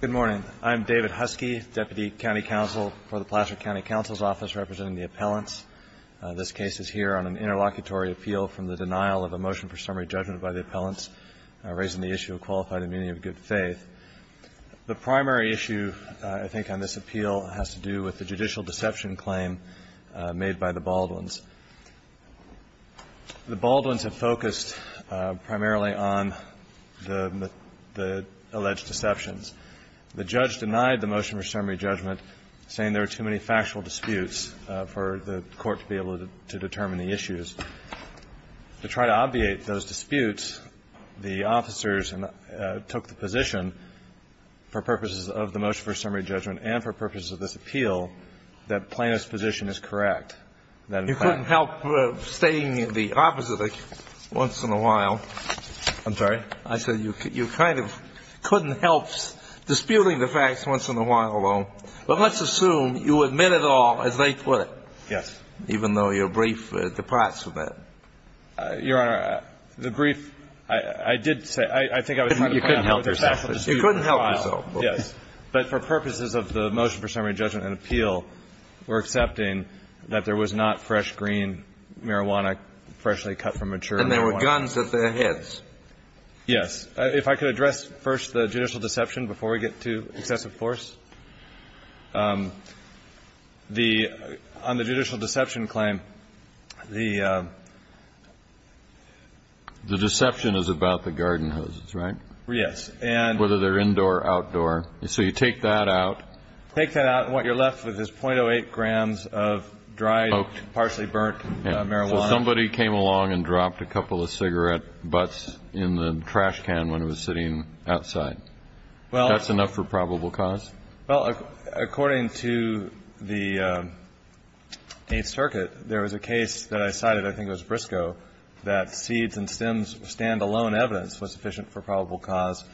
Good morning. I'm David Huskey, Deputy County Counsel for the Placer County Counsel's Office, representing the appellants. This case is here on an interlocutory appeal from the denial of a motion for summary judgment by the appellants, raising the issue of qualified immunity of good faith. The primary issue, I think, on this appeal has to do with the judicial deception claim made by the Baldwins. The Baldwins have focused primarily on the alleged deceptions. The judge denied the motion for summary judgment, saying there were too many factual disputes for the court to be able to determine the issues. To try to obviate those disputes, the officers took the position, for purposes of the motion for summary judgment and for purposes of this appeal, that Plano's position is correct. You couldn't help stating the opposite once in a while. I'm sorry? I said you kind of couldn't help disputing the facts once in a while, though. But let's assume you admit it all, as they put it. Yes. Even though your brief departs from that. Your Honor, the brief, I did say. I think I was trying to find out what the factual dispute was. You couldn't help yourself. Yes. But for purposes of the motion for summary judgment and appeal, we're accepting that there was not fresh green marijuana freshly cut from mature marijuana. And there were guns at their heads. Yes. If I could address first the judicial deception before we get to excessive force. The – on the judicial deception claim, the – The deception is about the garden hoses, right? Yes. Whether they're indoor or outdoor. So you take that out. Take that out, and what you're left with is .08 grams of dried, partially burnt marijuana. Somebody came along and dropped a couple of cigarette butts in the trash can when it was sitting outside. That's enough for probable cause? Well, according to the Eighth Circuit, there was a case that I cited, I think it was Briscoe, that seeds and stems stand-alone evidence was sufficient for probable cause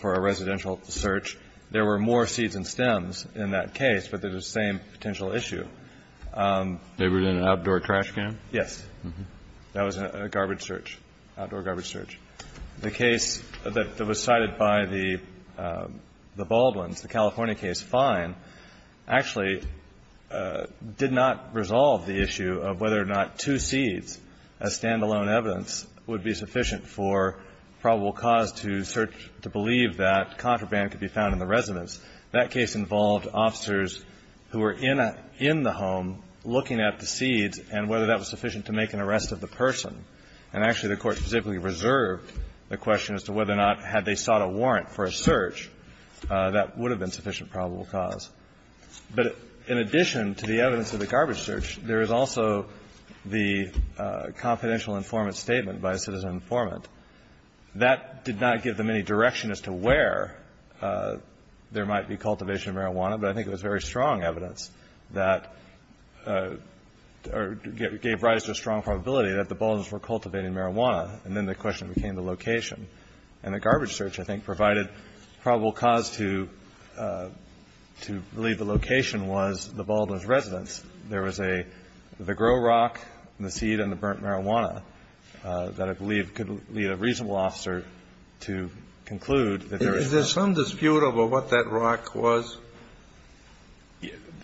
for a residential search. There were more seeds and stems in that case, but they're the same potential issue. They were in an outdoor trash can? Yes. That was a garbage search, outdoor garbage search. The case that was cited by the Baldwins, the California case, Fine, actually did not resolve the issue of whether or not two seeds as stand-alone evidence would be sufficient for probable cause to search to believe that contraband could be found in the residence. That case involved officers who were in a – in the home looking at the seeds and whether that was sufficient to make an arrest of the person. And actually, the Court specifically reserved the question as to whether or not had they sought a warrant for a search that would have been sufficient probable cause. But in addition to the evidence of the garbage search, there is also the confidential informant statement by a citizen informant. That did not give them any direction as to where there might be cultivation of marijuana, but I think it was very strong evidence that – or gave rise to a strong probability that the Baldwins were cultivating marijuana. And then the question became the location. And the garbage search, I think, provided probable cause to believe the location was the Baldwins' residence. There was a – the grow rock and the seed and the burnt marijuana that I believe could lead a reasonable officer to conclude that there is not. Kennedy. Is there some dispute over what that rock was?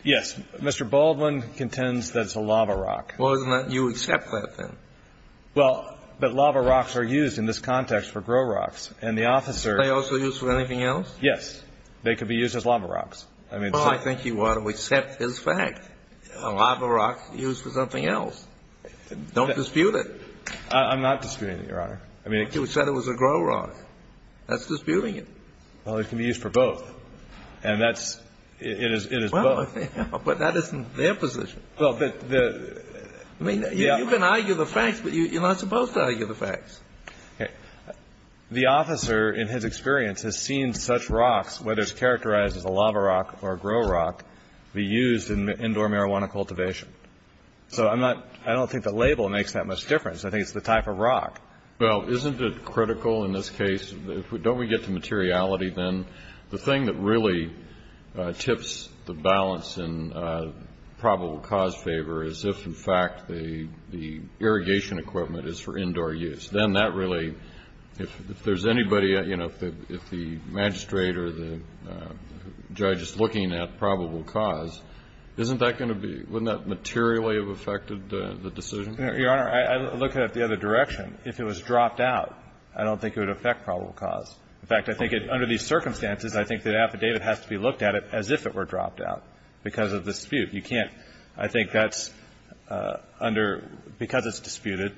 Yes. Mr. Baldwin contends that it's a lava rock. Well, isn't that – you accept that, then? Well, but lava rocks are used in this context for grow rocks. And the officer – Are they also used for anything else? Yes. They could be used as lava rocks. Well, I think you ought to accept his fact. A lava rock used for something else. Don't dispute it. I'm not disputing it, Your Honor. But you said it was a grow rock. That's disputing it. Well, it can be used for both. And that's – it is both. Well, but that isn't their position. Well, but the – I mean, you can argue the facts, but you're not supposed to argue the facts. Okay. The officer, in his experience, has seen such rocks, whether it's characterized as a lava rock or a grow rock, be used in indoor marijuana cultivation. So I'm not – I don't think the label makes that much difference. I think it's the type of rock. Well, isn't it critical in this case – don't we get to materiality, then? The thing that really tips the balance in probable cause favor is if, in fact, the irrigation equipment is for indoor use. Then that really – if there's anybody – you know, if the magistrate or the judge is looking at probable cause, isn't that going to be – wouldn't that materially have affected the decision? Your Honor, I look at it the other direction. If it was dropped out, I don't think it would affect probable cause. In fact, I think it – under these circumstances, I think the affidavit has to be looked at as if it were dropped out because of the dispute. You can't – I think that's under – because it's disputed,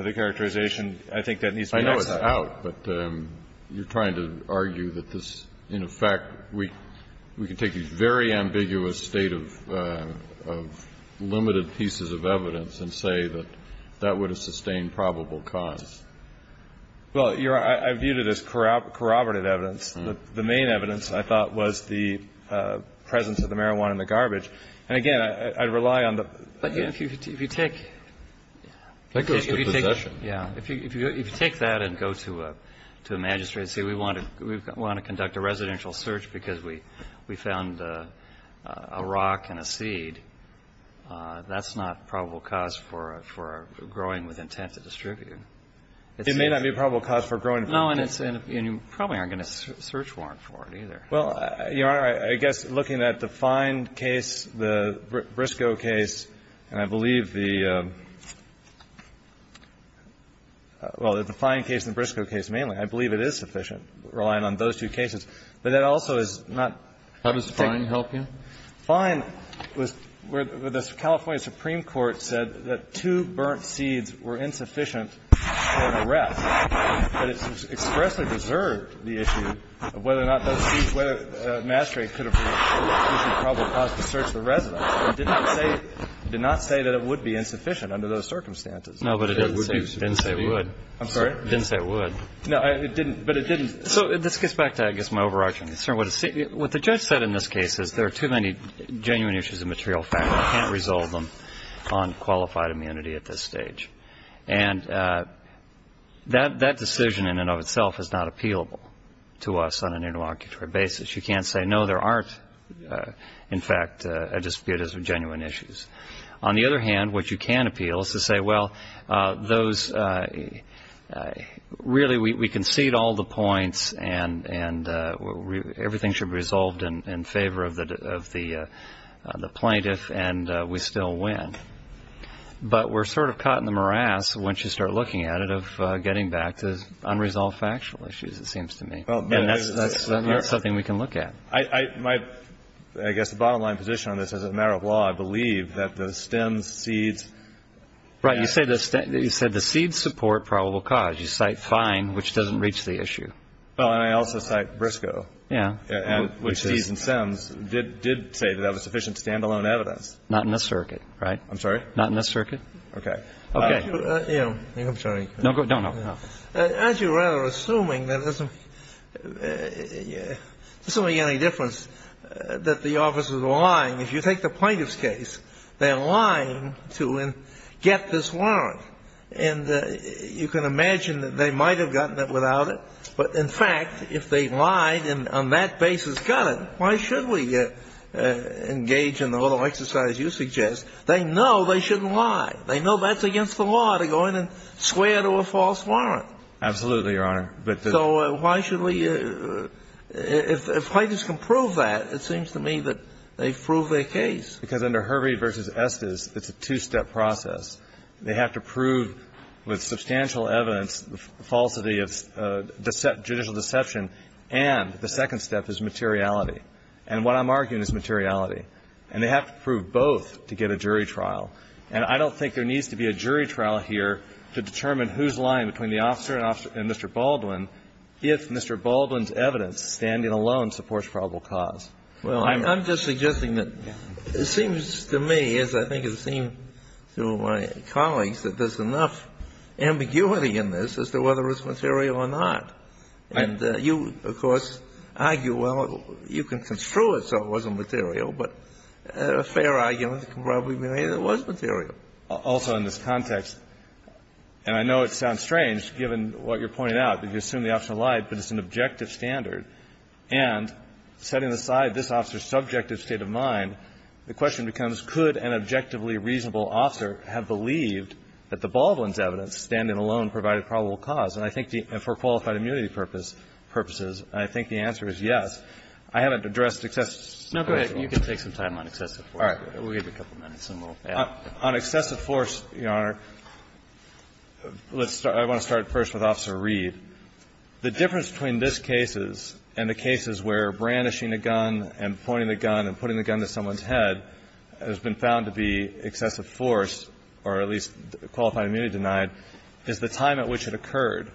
the characterization – I think that needs to be – I know it's out, but you're trying to argue that this – in effect, we can take these very ambiguous state of limited pieces of evidence and say that that would have sustained probable cause. Well, Your Honor, I viewed it as corroborative evidence. The main evidence, I thought, was the presence of the marijuana in the garbage. And again, I rely on the – But if you take – That goes with possession. Yeah. If you take that and go to a magistrate and say, we want to conduct a residential search because we found a rock and a seed, that's not probable cause for growing with intent to distribute. It may not be probable cause for growing. No, and it's – and you probably aren't going to search warrant for it either. Well, Your Honor, I guess looking at the Fine case, the Briscoe case, and I believe the – well, the Fine case and the Briscoe case mainly, I believe it is sufficient, relying on those two cases. But that also is not – How does Fine help you? Fine was where the California Supreme Court said that two burnt seeds were insufficient for an arrest. But it expressly preserved the issue of whether or not those seeds – whether a magistrate could have used the probable cause to search the residence. It did not say – did not say that it would be insufficient under those circumstances. No, but it didn't say it would. I'm sorry? It didn't say it would. No, it didn't. But it didn't. So this gets back to, I guess, my overarching concern. What the judge said in this case is there are too many genuine issues of material fact. We can't resolve them on qualified immunity at this stage. And that decision in and of itself is not appealable to us on an interlocutory basis. You can't say, no, there aren't, in fact, disputes of genuine issues. On the other hand, what you can appeal is to say, well, those – really, we concede all the points and everything should be resolved in favor of the plaintiff and we still win. But we're sort of caught in the morass, once you start looking at it, of getting back to unresolved factual issues, it seems to me. And that's something we can look at. I guess the bottom line position on this, as a matter of law, I believe that the stems, seeds – Right. You said the seeds support probable cause. Well, I did. You cite Fein, which doesn't reach the issue. Well, and I also cite Briscoe. Yeah. Which seeds and stems did say that that was sufficient stand-alone evidence. Not in this circuit, right? I'm sorry? Not in this circuit. Okay. Okay. I'm sorry. No, no, no. Aren't you rather assuming that there's only any difference that the officers are lying? If you take the plaintiff's case, they're lying to get this warrant. And you can imagine that they might have gotten it without it, but in fact, if they lied and on that basis got it, why should we engage in the little exercise you suggest? They know they shouldn't lie. They know that's against the law to go in and swear to a false warrant. Absolutely, Your Honor. But the – So why should we – if plaintiffs can prove that, it seems to me that they've got a case. Because under Hervey v. Estes, it's a two-step process. They have to prove with substantial evidence the falsity of judicial deception, and the second step is materiality. And what I'm arguing is materiality. And they have to prove both to get a jury trial. And I don't think there needs to be a jury trial here to determine who's lying between the officer and Mr. Baldwin if Mr. Baldwin's evidence standing alone supports probable cause. Well, I'm just suggesting that it seems to me, as I think it seems to my colleagues, that there's enough ambiguity in this as to whether it's material or not. And you, of course, argue, well, you can construe it so it wasn't material, but a fair argument can probably be made that it was material. Also in this context, and I know it sounds strange given what you're pointing out, but you assume the officer lied, but it's an objective standard. And setting aside this officer's subjective state of mind, the question becomes, could an objectively reasonable officer have believed that the Baldwin's evidence standing alone provided probable cause? And I think for qualified immunity purposes, I think the answer is yes. I haven't addressed excessive force. Roberts. Now, go ahead. You can take some time on excessive force. All right. We'll give you a couple minutes and we'll add. On excessive force, Your Honor, let's start. Let's start first with Officer Reed. The difference between this case and the cases where brandishing a gun and pointing the gun and putting the gun to someone's head has been found to be excessive force, or at least qualified immunity denied, is the time at which it occurred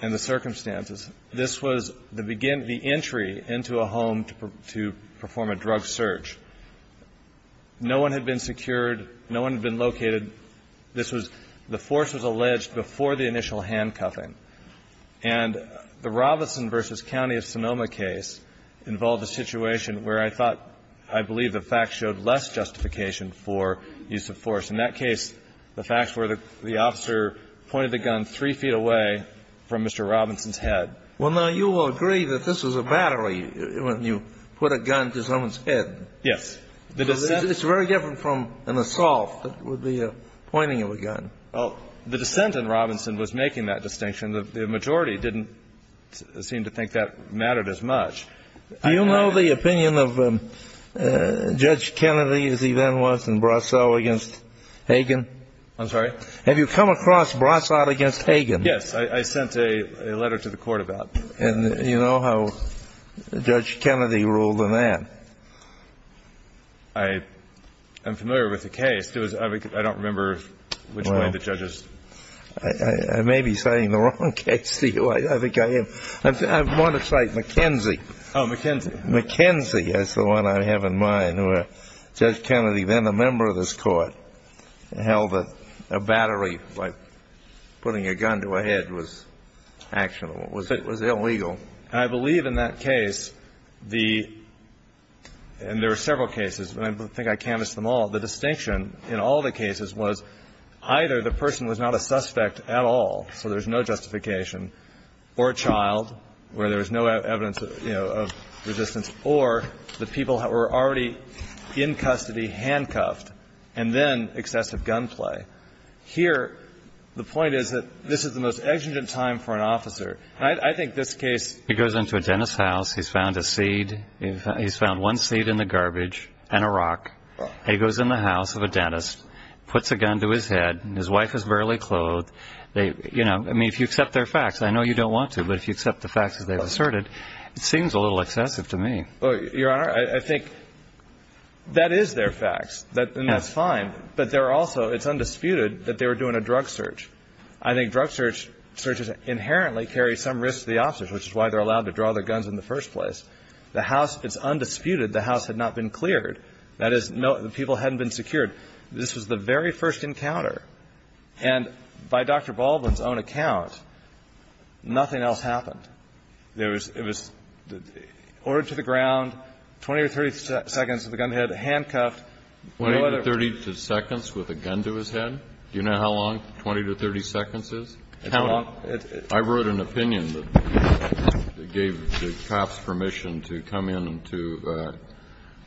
and the circumstances. This was the entry into a home to perform a drug search. No one had been secured. No one had been located. This was the force was alleged before the initial handcuffing. And the Robinson v. County of Sonoma case involved a situation where I thought I believe the facts showed less justification for use of force. In that case, the facts were the officer pointed the gun three feet away from Mr. Robinson's head. Well, now, you will agree that this was a battery when you put a gun to someone's Yes. It's very different from an assault. It would be a pointing of a gun. Well, the dissent in Robinson was making that distinction. The majority didn't seem to think that mattered as much. Do you know the opinion of Judge Kennedy as he then was in Brossard against Hagan? I'm sorry? Have you come across Brossard against Hagan? Yes. I sent a letter to the Court about that. And you know how Judge Kennedy ruled on that? I'm familiar with the case. I don't remember which way the judges. I may be citing the wrong case to you. I think I am. I want to cite McKenzie. Oh, McKenzie. McKenzie is the one I have in mind where Judge Kennedy, then a member of this court, held that a battery like putting a gun to a head was actionable. It was illegal. And I believe in that case the – and there were several cases, but I think I canvassed them all. The distinction in all the cases was either the person was not a suspect at all, so there's no justification, or a child where there was no evidence, you know, of resistance, or the people were already in custody, handcuffed, and then excessive gunplay. Here, the point is that this is the most exigent time for an officer. I think this case – He goes into a dentist's house. He's found a seed. He's found one seed in the garbage and a rock. He goes in the house of a dentist, puts a gun to his head. His wife is barely clothed. You know, I mean, if you accept their facts, and I know you don't want to, but if you accept the facts as they've asserted, it seems a little excessive to me. Your Honor, I think that is their facts. And that's fine. But they're also – it's undisputed that they were doing a drug search. I think drug searches inherently carry some risk to the officers, which is why they're allowed to draw their guns in the first place. The house – it's undisputed the house had not been cleared. That is, no – the people hadn't been secured. This was the very first encounter. And by Dr. Baldwin's own account, nothing else happened. There was – it was ordered to the ground, 20 or 30 seconds with a gun to the head, handcuffed. 20 to 30 seconds with a gun to his head? Do you know how long 20 to 30 seconds is? How long? I wrote an opinion that gave the cops permission to come into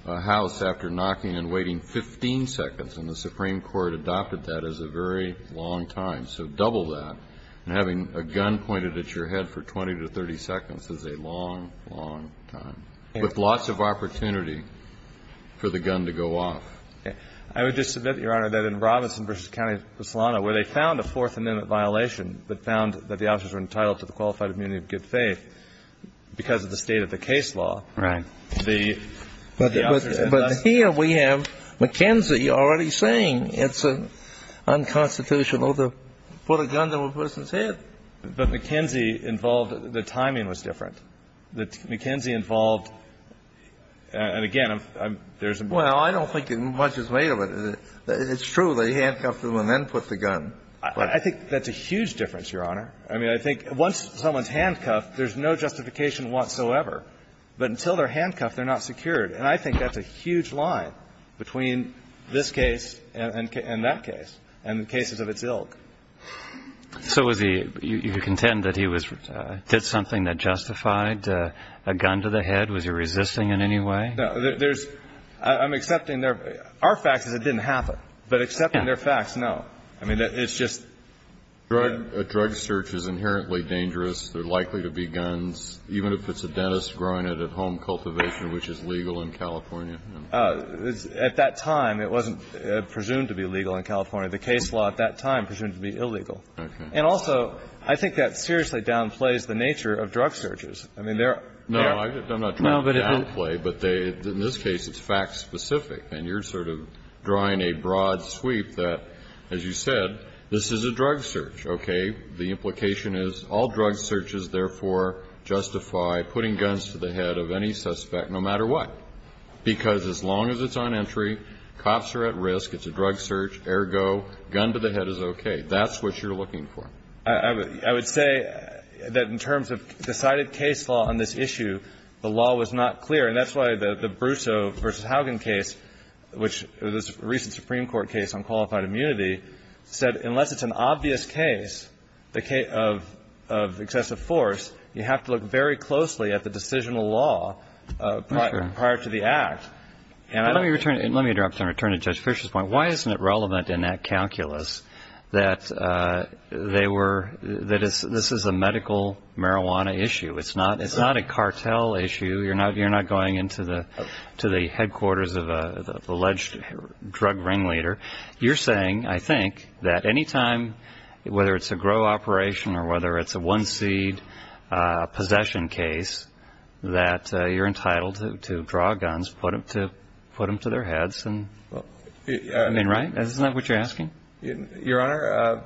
a house after knocking and waiting 15 seconds, and the Supreme Court adopted that as a very long time. So double that. And having a gun pointed at your head for 20 to 30 seconds is a long, long time. With lots of opportunity for the gun to go off. I would just submit, Your Honor, that in Robinson v. County of Solano, where they found a Fourth Amendment violation that found that the officers were entitled to the qualified immunity of good faith because of the state of the case law. Right. But here we have McKenzie already saying it's unconstitutional to put a gun to a person's head. But McKenzie involved – the timing was different. McKenzie involved – and again, there's a – Well, I don't think much is made of it. It's true. They handcuffed him and then put the gun. I think that's a huge difference, Your Honor. I mean, I think once someone's handcuffed, there's no justification whatsoever. But until they're handcuffed, they're not secured. And I think that's a huge line between this case and that case and the cases of its ilk. So was he – you contend that he was – did something that justified a gun to the head? Was he resisting in any way? No. There's – I'm accepting their – our fact is it didn't happen. But accepting their facts, no. I mean, it's just – A drug search is inherently dangerous. There are likely to be guns, even if it's a dentist growing it at home cultivation, which is legal in California. At that time, it wasn't presumed to be legal in California. The case law at that time presumed to be illegal. Okay. And also, I think that seriously downplays the nature of drug searches. I mean, there are – No, I'm not trying to downplay. But they – in this case, it's fact-specific. And you're sort of drawing a broad sweep that, as you said, this is a drug search, okay? The implication is all drug searches, therefore, justify putting guns to the head of any suspect, no matter what. Because as long as it's on entry, cops are at risk, it's a drug search, ergo, gun to the head is okay. That's what you're looking for. I would say that in terms of decided case law on this issue, the law was not clear. And that's why the Brussaux v. Haugen case, which was a recent Supreme Court case on qualified immunity, said unless it's an obvious case of excessive force, you have to look very closely at the decisional law prior to it. Prior to the act. Let me interrupt and return to Judge Fischer's point. Why isn't it relevant in that calculus that they were – that this is a medical marijuana issue? It's not a cartel issue. You're not going into the headquarters of an alleged drug ringleader. You're saying, I think, that any time, whether it's a grow operation or whether it's a one-seed possession case, that you're entitled to draw guns, put them to their heads. I mean, right? Isn't that what you're asking? Your Honor,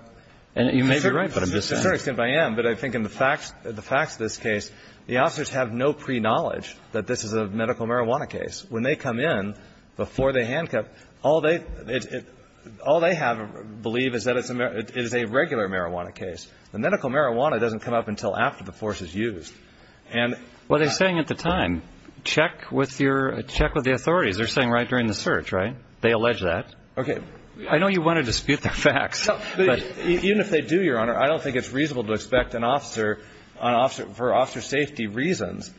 you may be right, but I'm just saying. To a certain extent, I am. But I think in the facts of this case, the officers have no pre-knowledge that this is a medical marijuana case. When they come in, before they handcuff, all they believe is that it's a regular marijuana case. The medical marijuana doesn't come up until after the force is used. And – Well, they're saying at the time, check with your – check with the authorities. They're saying right during the search, right? They allege that. Okay. I know you want to dispute the facts, but – Even if they do, Your Honor, I don't think it's reasonable to expect an officer, for officer safety reasons,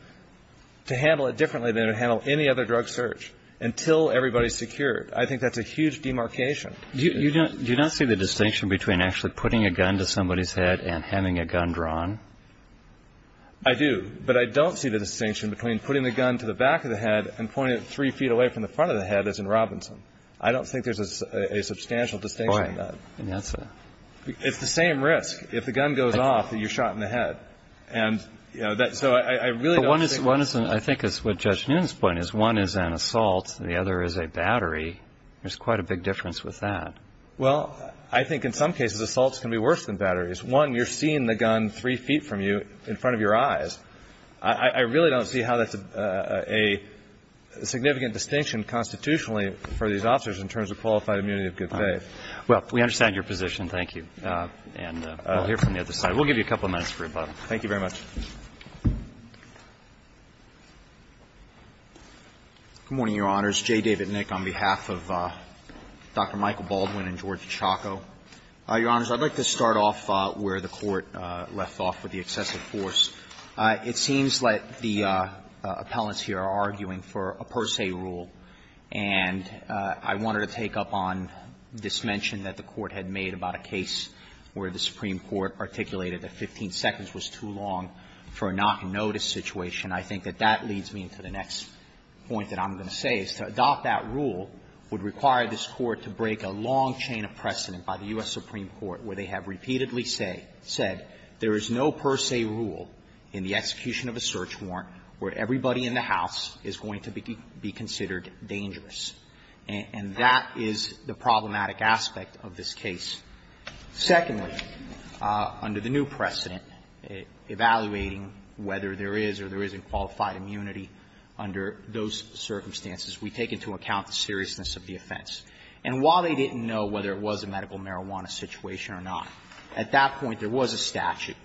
to handle it differently than it would handle any other drug search until everybody's secured. I think that's a huge demarcation. Do you not see the distinction between actually putting a gun to somebody's head and having a gun drawn? I do. But I don't see the distinction between putting the gun to the back of the head and pointing it three feet away from the front of the head as in Robinson. I don't think there's a substantial distinction in that. All right. And that's a – It's the same risk. If the gun goes off, you're shot in the head. And, you know, that – so I really don't think – But one is – I think it's what Judge Newton's point is. One is an assault. The other is a battery. There's quite a big difference with that. Well, I think in some cases, assaults can be worse than batteries. One, you're seeing the gun three feet from you in front of your eyes. I really don't see how that's a significant distinction constitutionally for these officers in terms of qualified immunity of good faith. All right. Well, we understand your position. Thank you. And we'll hear from the other side. We'll give you a couple of minutes for rebuttal. Thank you very much. Good morning, Your Honors. J. David Nick on behalf of Dr. Michael Baldwin and George Chaco. Your Honors, I'd like to start off where the Court left off with the excessive force. It seems like the appellants here are arguing for a per se rule. And I wanted to take up on this mention that the Court had made about a case where the Supreme Court articulated that 15 seconds was too long for a knock and notice situation. I think that that leads me to the next point that I'm going to say, is to adopt that rule would require this Court to break a long chain of precedent by the U.S. Supreme Court where they have repeatedly said there is no per se rule in the execution of a search warrant where everybody in the house is going to be considered dangerous. And that is the problematic aspect of this case. Secondly, under the new precedent, evaluating whether there is or there isn't qualified immunity under those circumstances, we take into account the seriousness of the offense. And while they didn't know whether it was a medical marijuana situation or not, at that point there was a statute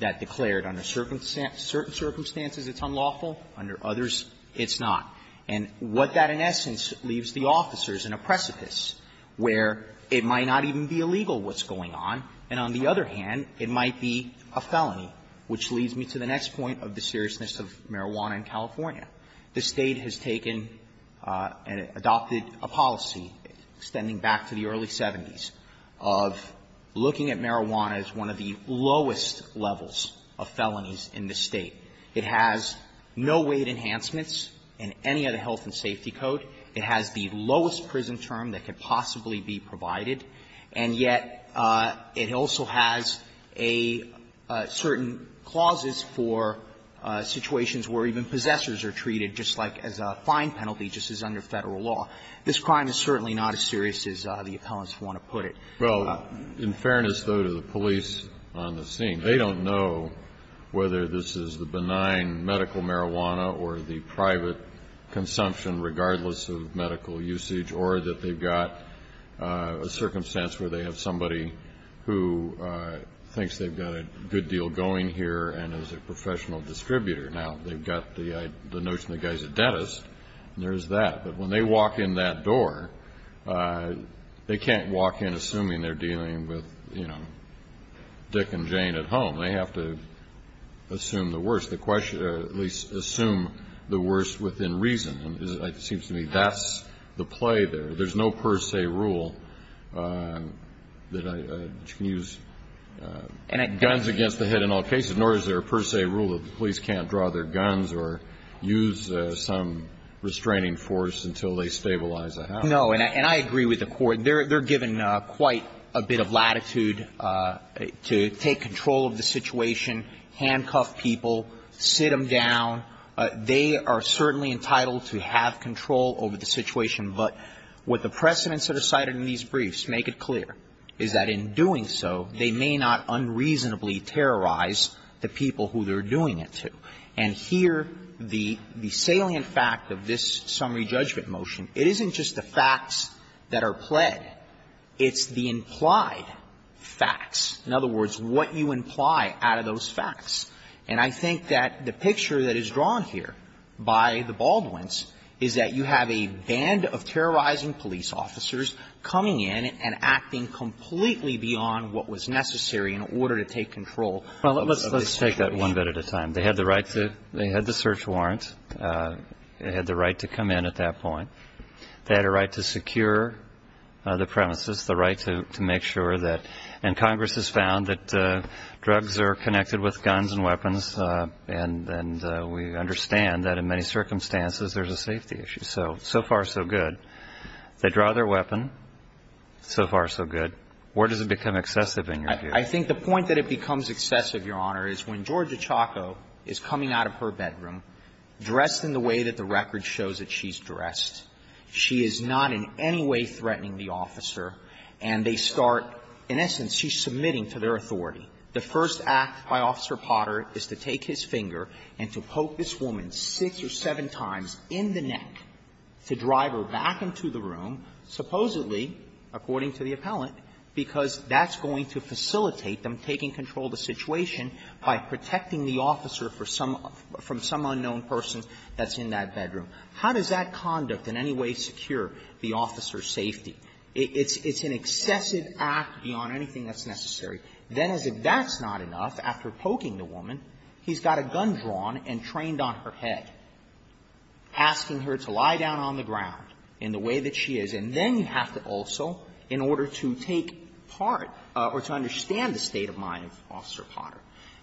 that declared under certain circumstances it's unlawful, under others it's not. And what that, in essence, leaves the officers in a precipice where it might not even be illegal what's going on, and on the other hand, it might be a felony, which leads me to the next point of the seriousness of marijuana in California. The State has taken and adopted a policy extending back to the early 70s of looking at marijuana as one of the lowest levels of felonies in the State. It has no weight enhancements in any of the health and safety code. It has the lowest prison term that could possibly be provided. And yet, it also has a certain clauses for situations where even possessors are treated, just like as a fine penalty, just as under Federal law. This crime is certainly not as serious as the appellants want to put it. Kennedy, Well, in fairness, though, to the police on the scene, they don't know whether this is the benign medical marijuana or the private consumption, regardless of medical usage, or that they've got a circumstance where they have somebody who thinks they've got a good deal going here and is a professional distributor. Now, they've got the notion the guy's a dentist, and there's that. But when they walk in that door, they can't walk in assuming they're dealing with, you know, Dick and Jane at home. They have to assume the worst, or at least assume the worst within reason. It seems to me that's the play there. There's no per se rule that you can use guns against the head in all cases, nor is there a per se rule that the police can't draw their guns or use some restraining force until they stabilize a house. No, and I agree with the Court. They're given quite a bit of latitude to take control of the situation, handcuff people, sit them down. They are certainly entitled to have control over the situation. But what the precedents that are cited in these briefs make it clear is that in doing so, they may not unreasonably terrorize the people who they're doing it to. And here, the salient fact of this summary judgment motion, it isn't just the facts that are pled. It's the implied facts. In other words, what you imply out of those facts. And I think that the picture that is drawn here by the Baldwins is that you have a band of terrorizing police officers coming in and acting completely beyond what was necessary in order to take control of the situation. Well, let's take that one bit at a time. They had the right to the search warrant. They had the right to come in at that point. They had a right to secure the premises, the right to make sure that, and Congress has found that drugs are connected with guns and weapons. And we understand that in many circumstances there's a safety issue. So, so far, so good. They draw their weapon. So far, so good. Where does it become excessive in your view? I think the point that it becomes excessive, Your Honor, is when Georgia Chaco is coming out of her bedroom dressed in the way that the record shows that she's dressed. She is not in any way threatening the officer. And they start, in essence, she's submitting to their authority. The first act by Officer Potter is to take his finger and to poke this woman six or seven times in the neck to drive her back into the room, supposedly, according to the appellant, because that's going to facilitate them taking control of the situation by protecting the officer from some unknown person that's in that bedroom. How does that conduct in any way secure the officer's safety? It's an excessive act beyond anything that's necessary. Then, as if that's not enough, after poking the woman, he's got a gun drawn and trained on her head, asking her to lie down on the ground in the way that she is. And then you have to also, in order to take part or to understand the state of mind of Officer Potter,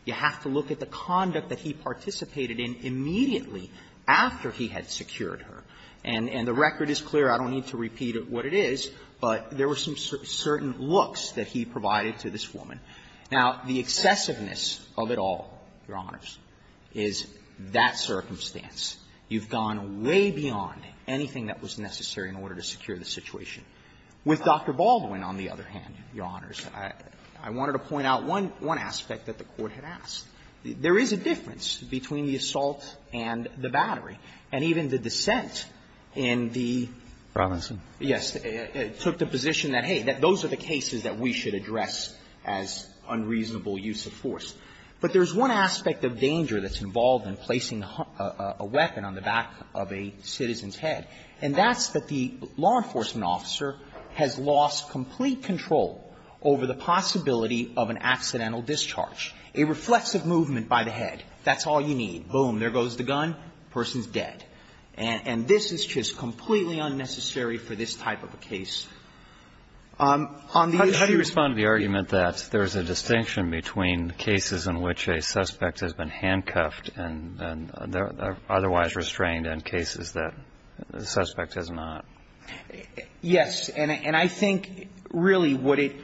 you have to look at the conduct that he participated in immediately after he had secured her. And the record is clear. I don't need to repeat what it is. But there were some certain looks that he provided to this woman. Now, the excessiveness of it all, Your Honors, is that circumstance. You've gone way beyond anything that was necessary in order to secure the situation. With Dr. Baldwin, on the other hand, Your Honors, I wanted to point out one aspect that the Court had asked. There is a difference between the assault and the battery. And even the dissent in the ---- Robertson. Yes. It took the position that, hey, those are the cases that we should address as unreasonable use of force. But there's one aspect of danger that's involved in placing a weapon on the back of a citizen's head, and that's that the law enforcement officer has lost complete control over the possibility of an accidental discharge. A reflexive movement by the head. That's all you need. Boom. There goes the gun. Person's dead. And this is just completely unnecessary for this type of a case. On the issue of ---- How do you respond to the argument that there's a distinction between cases in which a suspect has been handcuffed and otherwise restrained and cases that the suspect has not? Yes. And I think, really, what it ----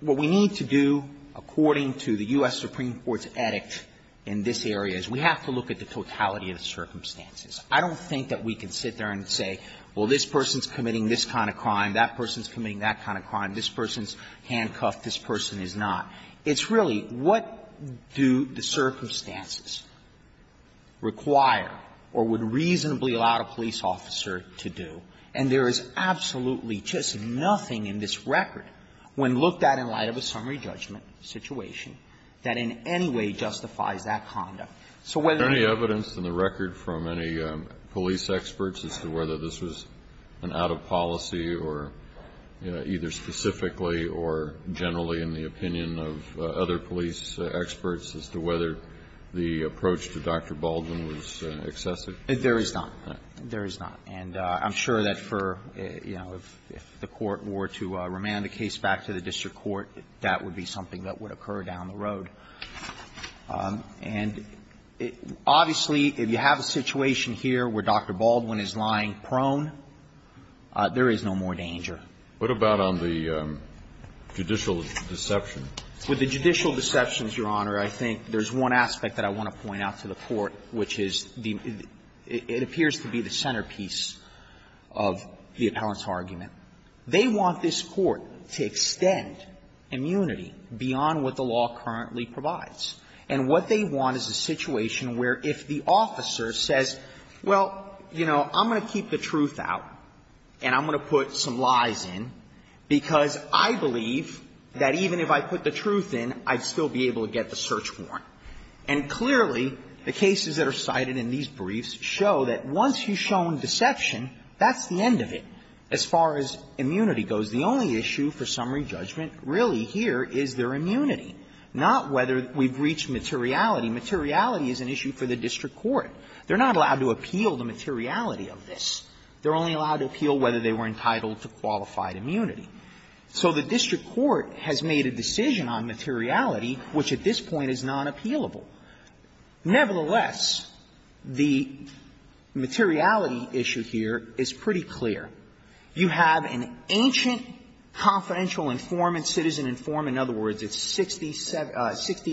what we need to do, according to the U.S. Supreme Court's edict in this area, is we have to look at the totality of the circumstances. I don't think that we can sit there and say, well, this person is committing this kind of crime, that person is committing that kind of crime, this person's handcuffed, this person is not. It's really what do the circumstances require or would reasonably allow a police officer to do. And there is absolutely just nothing in this record, when looked at in light of a summary judgment situation, that in any way justifies that conduct. So whether you ---- Is there any evidence in the record from any police experts as to whether this was an out-of-policy or, you know, either specifically or generally in the opinion of other police experts as to whether the approach to Dr. Baldwin was excessive? There is not. There is not. And I'm sure that for, you know, if the Court were to remand the case back to the district court, that would be something that would occur down the road. And it ---- obviously, if you have a situation here where Dr. Baldwin is lying prone, there is no more danger. What about on the judicial deception? With the judicial deceptions, Your Honor, I think there's one aspect that I want to point out to the Court, which is the ---- it appears to be the centerpiece of the appellant's argument. They want this Court to extend immunity beyond what the law currently provides. And what they want is a situation where if the officer says, well, you know, I'm going to keep the truth out and I'm going to put some lies in because I believe that even if I put the truth in, I'd still be able to get the search warrant. And clearly, the cases that are cited in these briefs show that once you've shown deception, that's the end of it as far as immunity goes. The only issue for summary judgment really here is their immunity, not whether we've reached materiality. Materiality is an issue for the district court. They're not allowed to appeal the materiality of this. They're only allowed to appeal whether they were entitled to qualified immunity. So the district court has made a decision on materiality, which at this point is non-appealable. Nevertheless, the materiality issue here is pretty clear. You have an ancient confidential informant, citizen informant. In other words, it's 60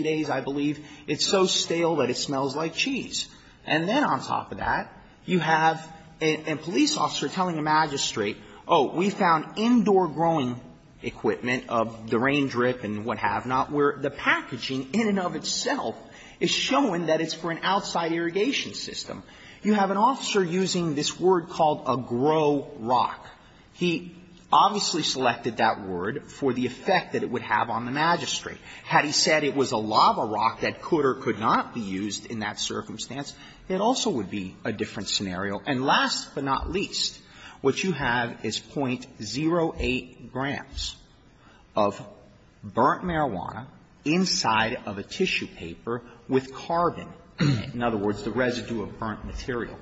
days, I believe. It's so stale that it smells like cheese. And then on top of that, you have a police officer telling a magistrate, oh, we found indoor growing equipment of the rain drip and what have not, where the packaging in and of itself is showing that it's for an outside irrigation system. You have an officer using this word called a grow rock. He obviously selected that word for the effect that it would have on the magistrate. Had he said it was a lava rock that could or could not be used in that circumstance, it also would be a different scenario. And last but not least, what you have is .08 grams of burnt marijuana inside of a tissue paper with carbon, in other words, the residue of burnt material.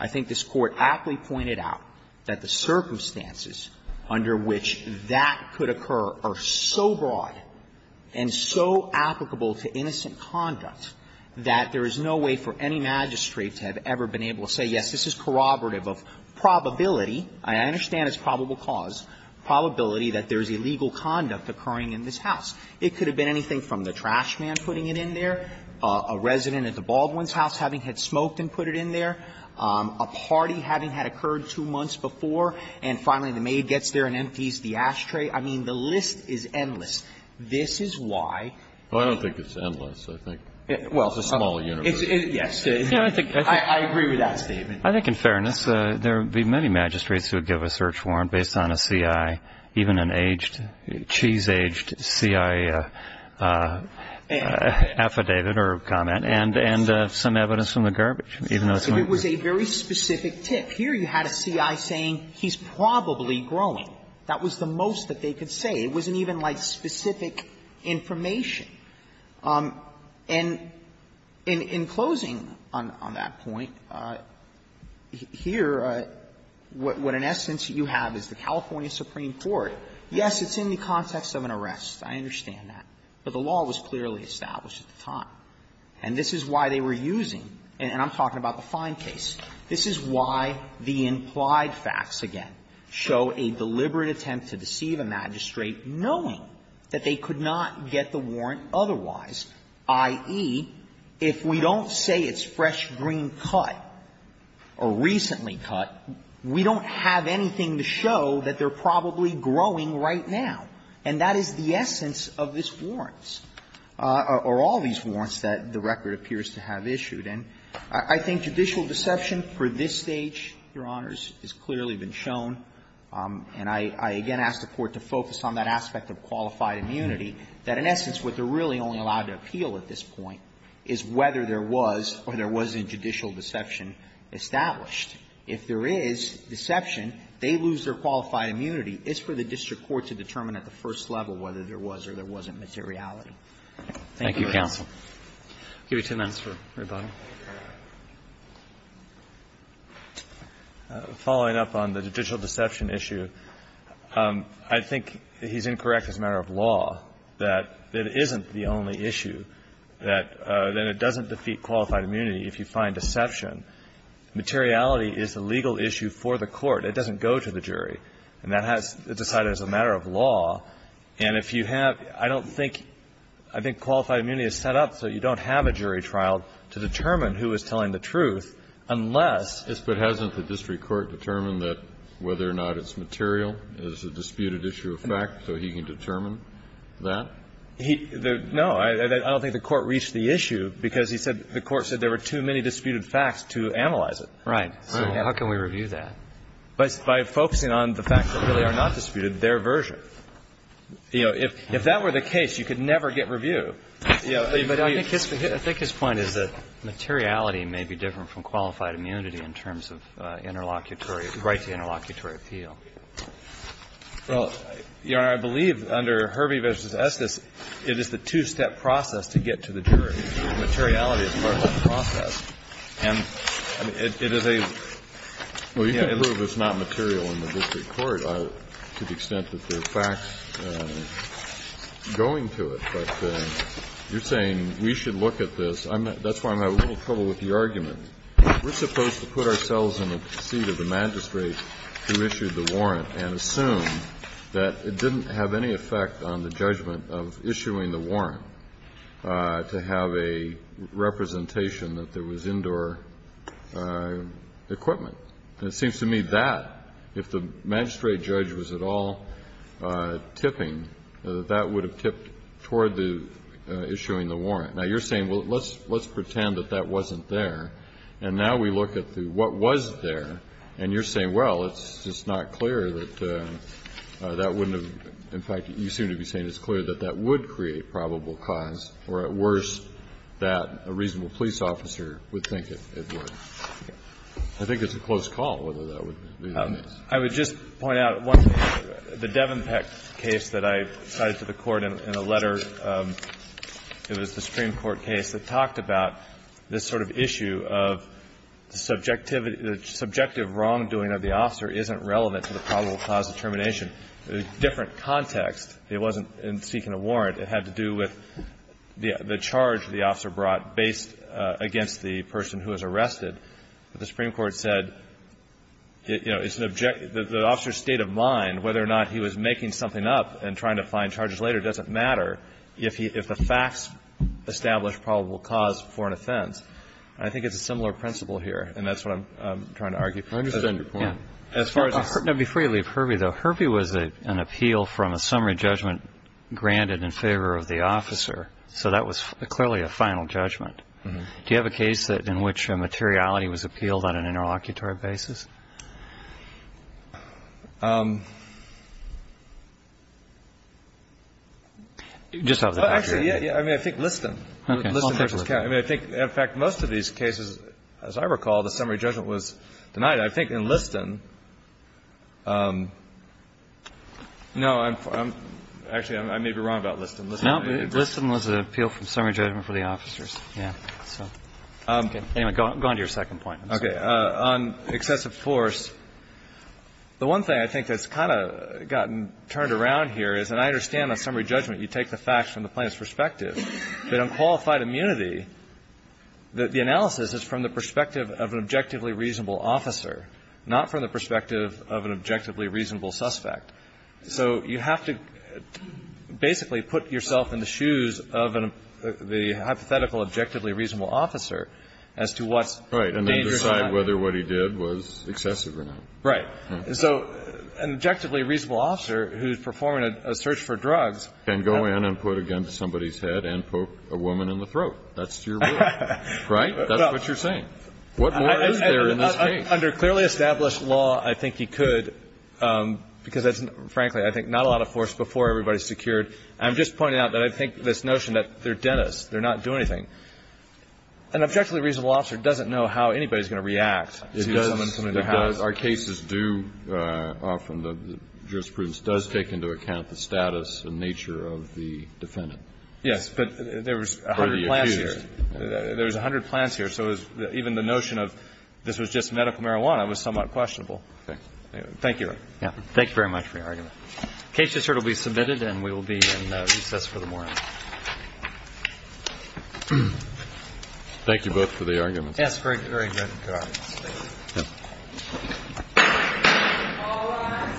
I think this Court aptly pointed out that the circumstances under which that could occur are so broad and so applicable to innocent conduct that there is no way for any magistrate to have ever been able to say, yes, this is corroborative of probability. I understand it's probable cause, probability that there is illegal conduct occurring in this house. It could have been anything from the trash man putting it in there, a resident at the Baldwin's house having had smoked and put it in there, a party having had occurred two months before, and finally the maid gets there and empties the ashtray. I mean, the list is endless. This is why the ---- Well, I don't think it's endless. I think it's a small universe. Yes. I agree with that statement. I think in fairness, there would be many magistrates who would give a search warrant based on a C.I., even an aged, cheese-aged C.I. affidavit or comment, and some evidence from the garbage, even though it's not ---- It was a very specific tip. Here you had a C.I. saying he's probably growing. That was the most that they could say. It wasn't even like specific information. And in closing on that point, here, what in essence you have is the California Supreme Court, yes, it's in the context of an arrest, I understand that, but the law was clearly established at the time. And this is why they were using, and I'm talking about the Fine case, this is why the implied facts, again, show a deliberate attempt to deceive a magistrate knowing that they could not get the warrant otherwise, i.e., if we don't say it's fresh green cut or recently cut, we don't have anything to show that they're probably growing right now. And that is the essence of this warrants, or all these warrants that the record appears to have issued. And I think judicial deception for this stage, Your Honors, has clearly been shown. And I again ask the Court to focus on that aspect of qualified immunity, that in essence what they're really only allowed to appeal at this point is whether there was or there wasn't judicial deception established. If there is deception, they lose their qualified immunity. It's for the district court to determine at the first level whether there was or there wasn't materiality. Roberts. Thank you, counsel. I'll give you two minutes for rebuttal. Following up on the judicial deception issue, I think he's incorrect as a matter of law that it isn't the only issue, that it doesn't defeat qualified immunity if you find deception. Materiality is a legal issue for the court. It doesn't go to the jury. And that has to be decided as a matter of law. And if you have — I don't think — I think qualified immunity is set up so you don't have a jury trial to determine who is telling the truth unless — Yes, but hasn't the district court determined that whether or not it's material is a disputed issue of fact, so he can determine that? No. I don't think the Court reached the issue because he said — the Court said there were too many disputed facts to analyze it. Right. So how can we review that? By focusing on the facts that really are not disputed, their version. You know, if that were the case, you could never get review. I think his point is that materiality may be different from qualified immunity in terms of interlocutory — right to interlocutory appeal. Well, Your Honor, I believe under Hervey v. Estes, it is the two-step process to get to the jury. Materiality is part of that process. And it is a — Well, you can prove it's not material in the district court to the extent that there You're saying we should look at this. That's why I'm having a little trouble with the argument. We're supposed to put ourselves in the seat of the magistrate who issued the warrant and assume that it didn't have any effect on the judgment of issuing the warrant to have a representation that there was indoor equipment. And it seems to me that, if the magistrate judge was at all tipping, that that would have tipped toward the issuing the warrant. Now, you're saying, well, let's pretend that that wasn't there. And now we look at the what was there, and you're saying, well, it's just not clear that that wouldn't have — in fact, you seem to be saying it's clear that that would create probable cause or, at worst, that a reasonable police officer would think it would. I think it's a close call whether that would be the case. I would just point out the Devenpeck case that I cited to the Court in a letter. It was the Supreme Court case that talked about this sort of issue of the subjective — the subjective wrongdoing of the officer isn't relevant to the probable cause of termination. It was a different context. It wasn't in seeking a warrant. It had to do with the charge the officer brought based against the person who was arrested. But the Supreme Court said, you know, it's an — the officer's state of mind, whether or not he was making something up and trying to find charges later, doesn't matter if the facts establish probable cause for an offense. And I think it's a similar principle here, and that's what I'm trying to argue. I understand your point. As far as — Now, before you leave Hervey, though, Hervey was an appeal from a summary judgment granted in favor of the officer. So that was clearly a final judgment. Do you have a case in which a materiality was appealed on an interlocutory basis? Actually, yeah. I mean, I think Liston. Okay. I mean, I think, in fact, most of these cases, as I recall, the summary judgment was denied. I think in Liston — no, I'm — actually, I may be wrong about Liston. Liston was an appeal from summary judgment for the officers. Yeah. Anyway, go on to your second point. Okay. On excessive force, the one thing I think that's kind of gotten turned around here is, and I understand on summary judgment you take the facts from the plaintiff's perspective, that on qualified immunity, the analysis is from the perspective of an objectively reasonable officer, not from the perspective of an objectively reasonable suspect. So you have to basically put yourself in the shoes of the hypothetical objectively reasonable officer as to what's dangerous or not. Right. And then decide whether what he did was excessive or not. Right. And so an objectively reasonable officer who's performing a search for drugs — Can go in and put a gun to somebody's head and poke a woman in the throat. That's your rule. Right? That's what you're saying. What more is there in this case? Under clearly established law, I think he could, because, frankly, I think not a lot of force before everybody's secured. I'm just pointing out that I think this notion that they're dentists, they're not doing anything, an objectively reasonable officer doesn't know how anybody's going to react. It does. It does. Our cases do often, the jurisprudence does take into account the status and nature of the defendant. Yes. But there was a hundred plans here. Or the accused. There was a hundred plans here. So even the notion of this was just medical marijuana was somewhat questionable. Okay. Thank you. Thank you very much for your argument. The case just heard will be submitted and we will be in recess for the morning. Thank you both for the argument. Yes. Very good. Good argument. Thank you. All rise.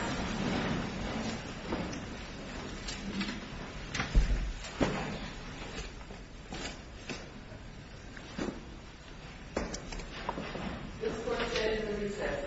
This court is in recess. Thank you.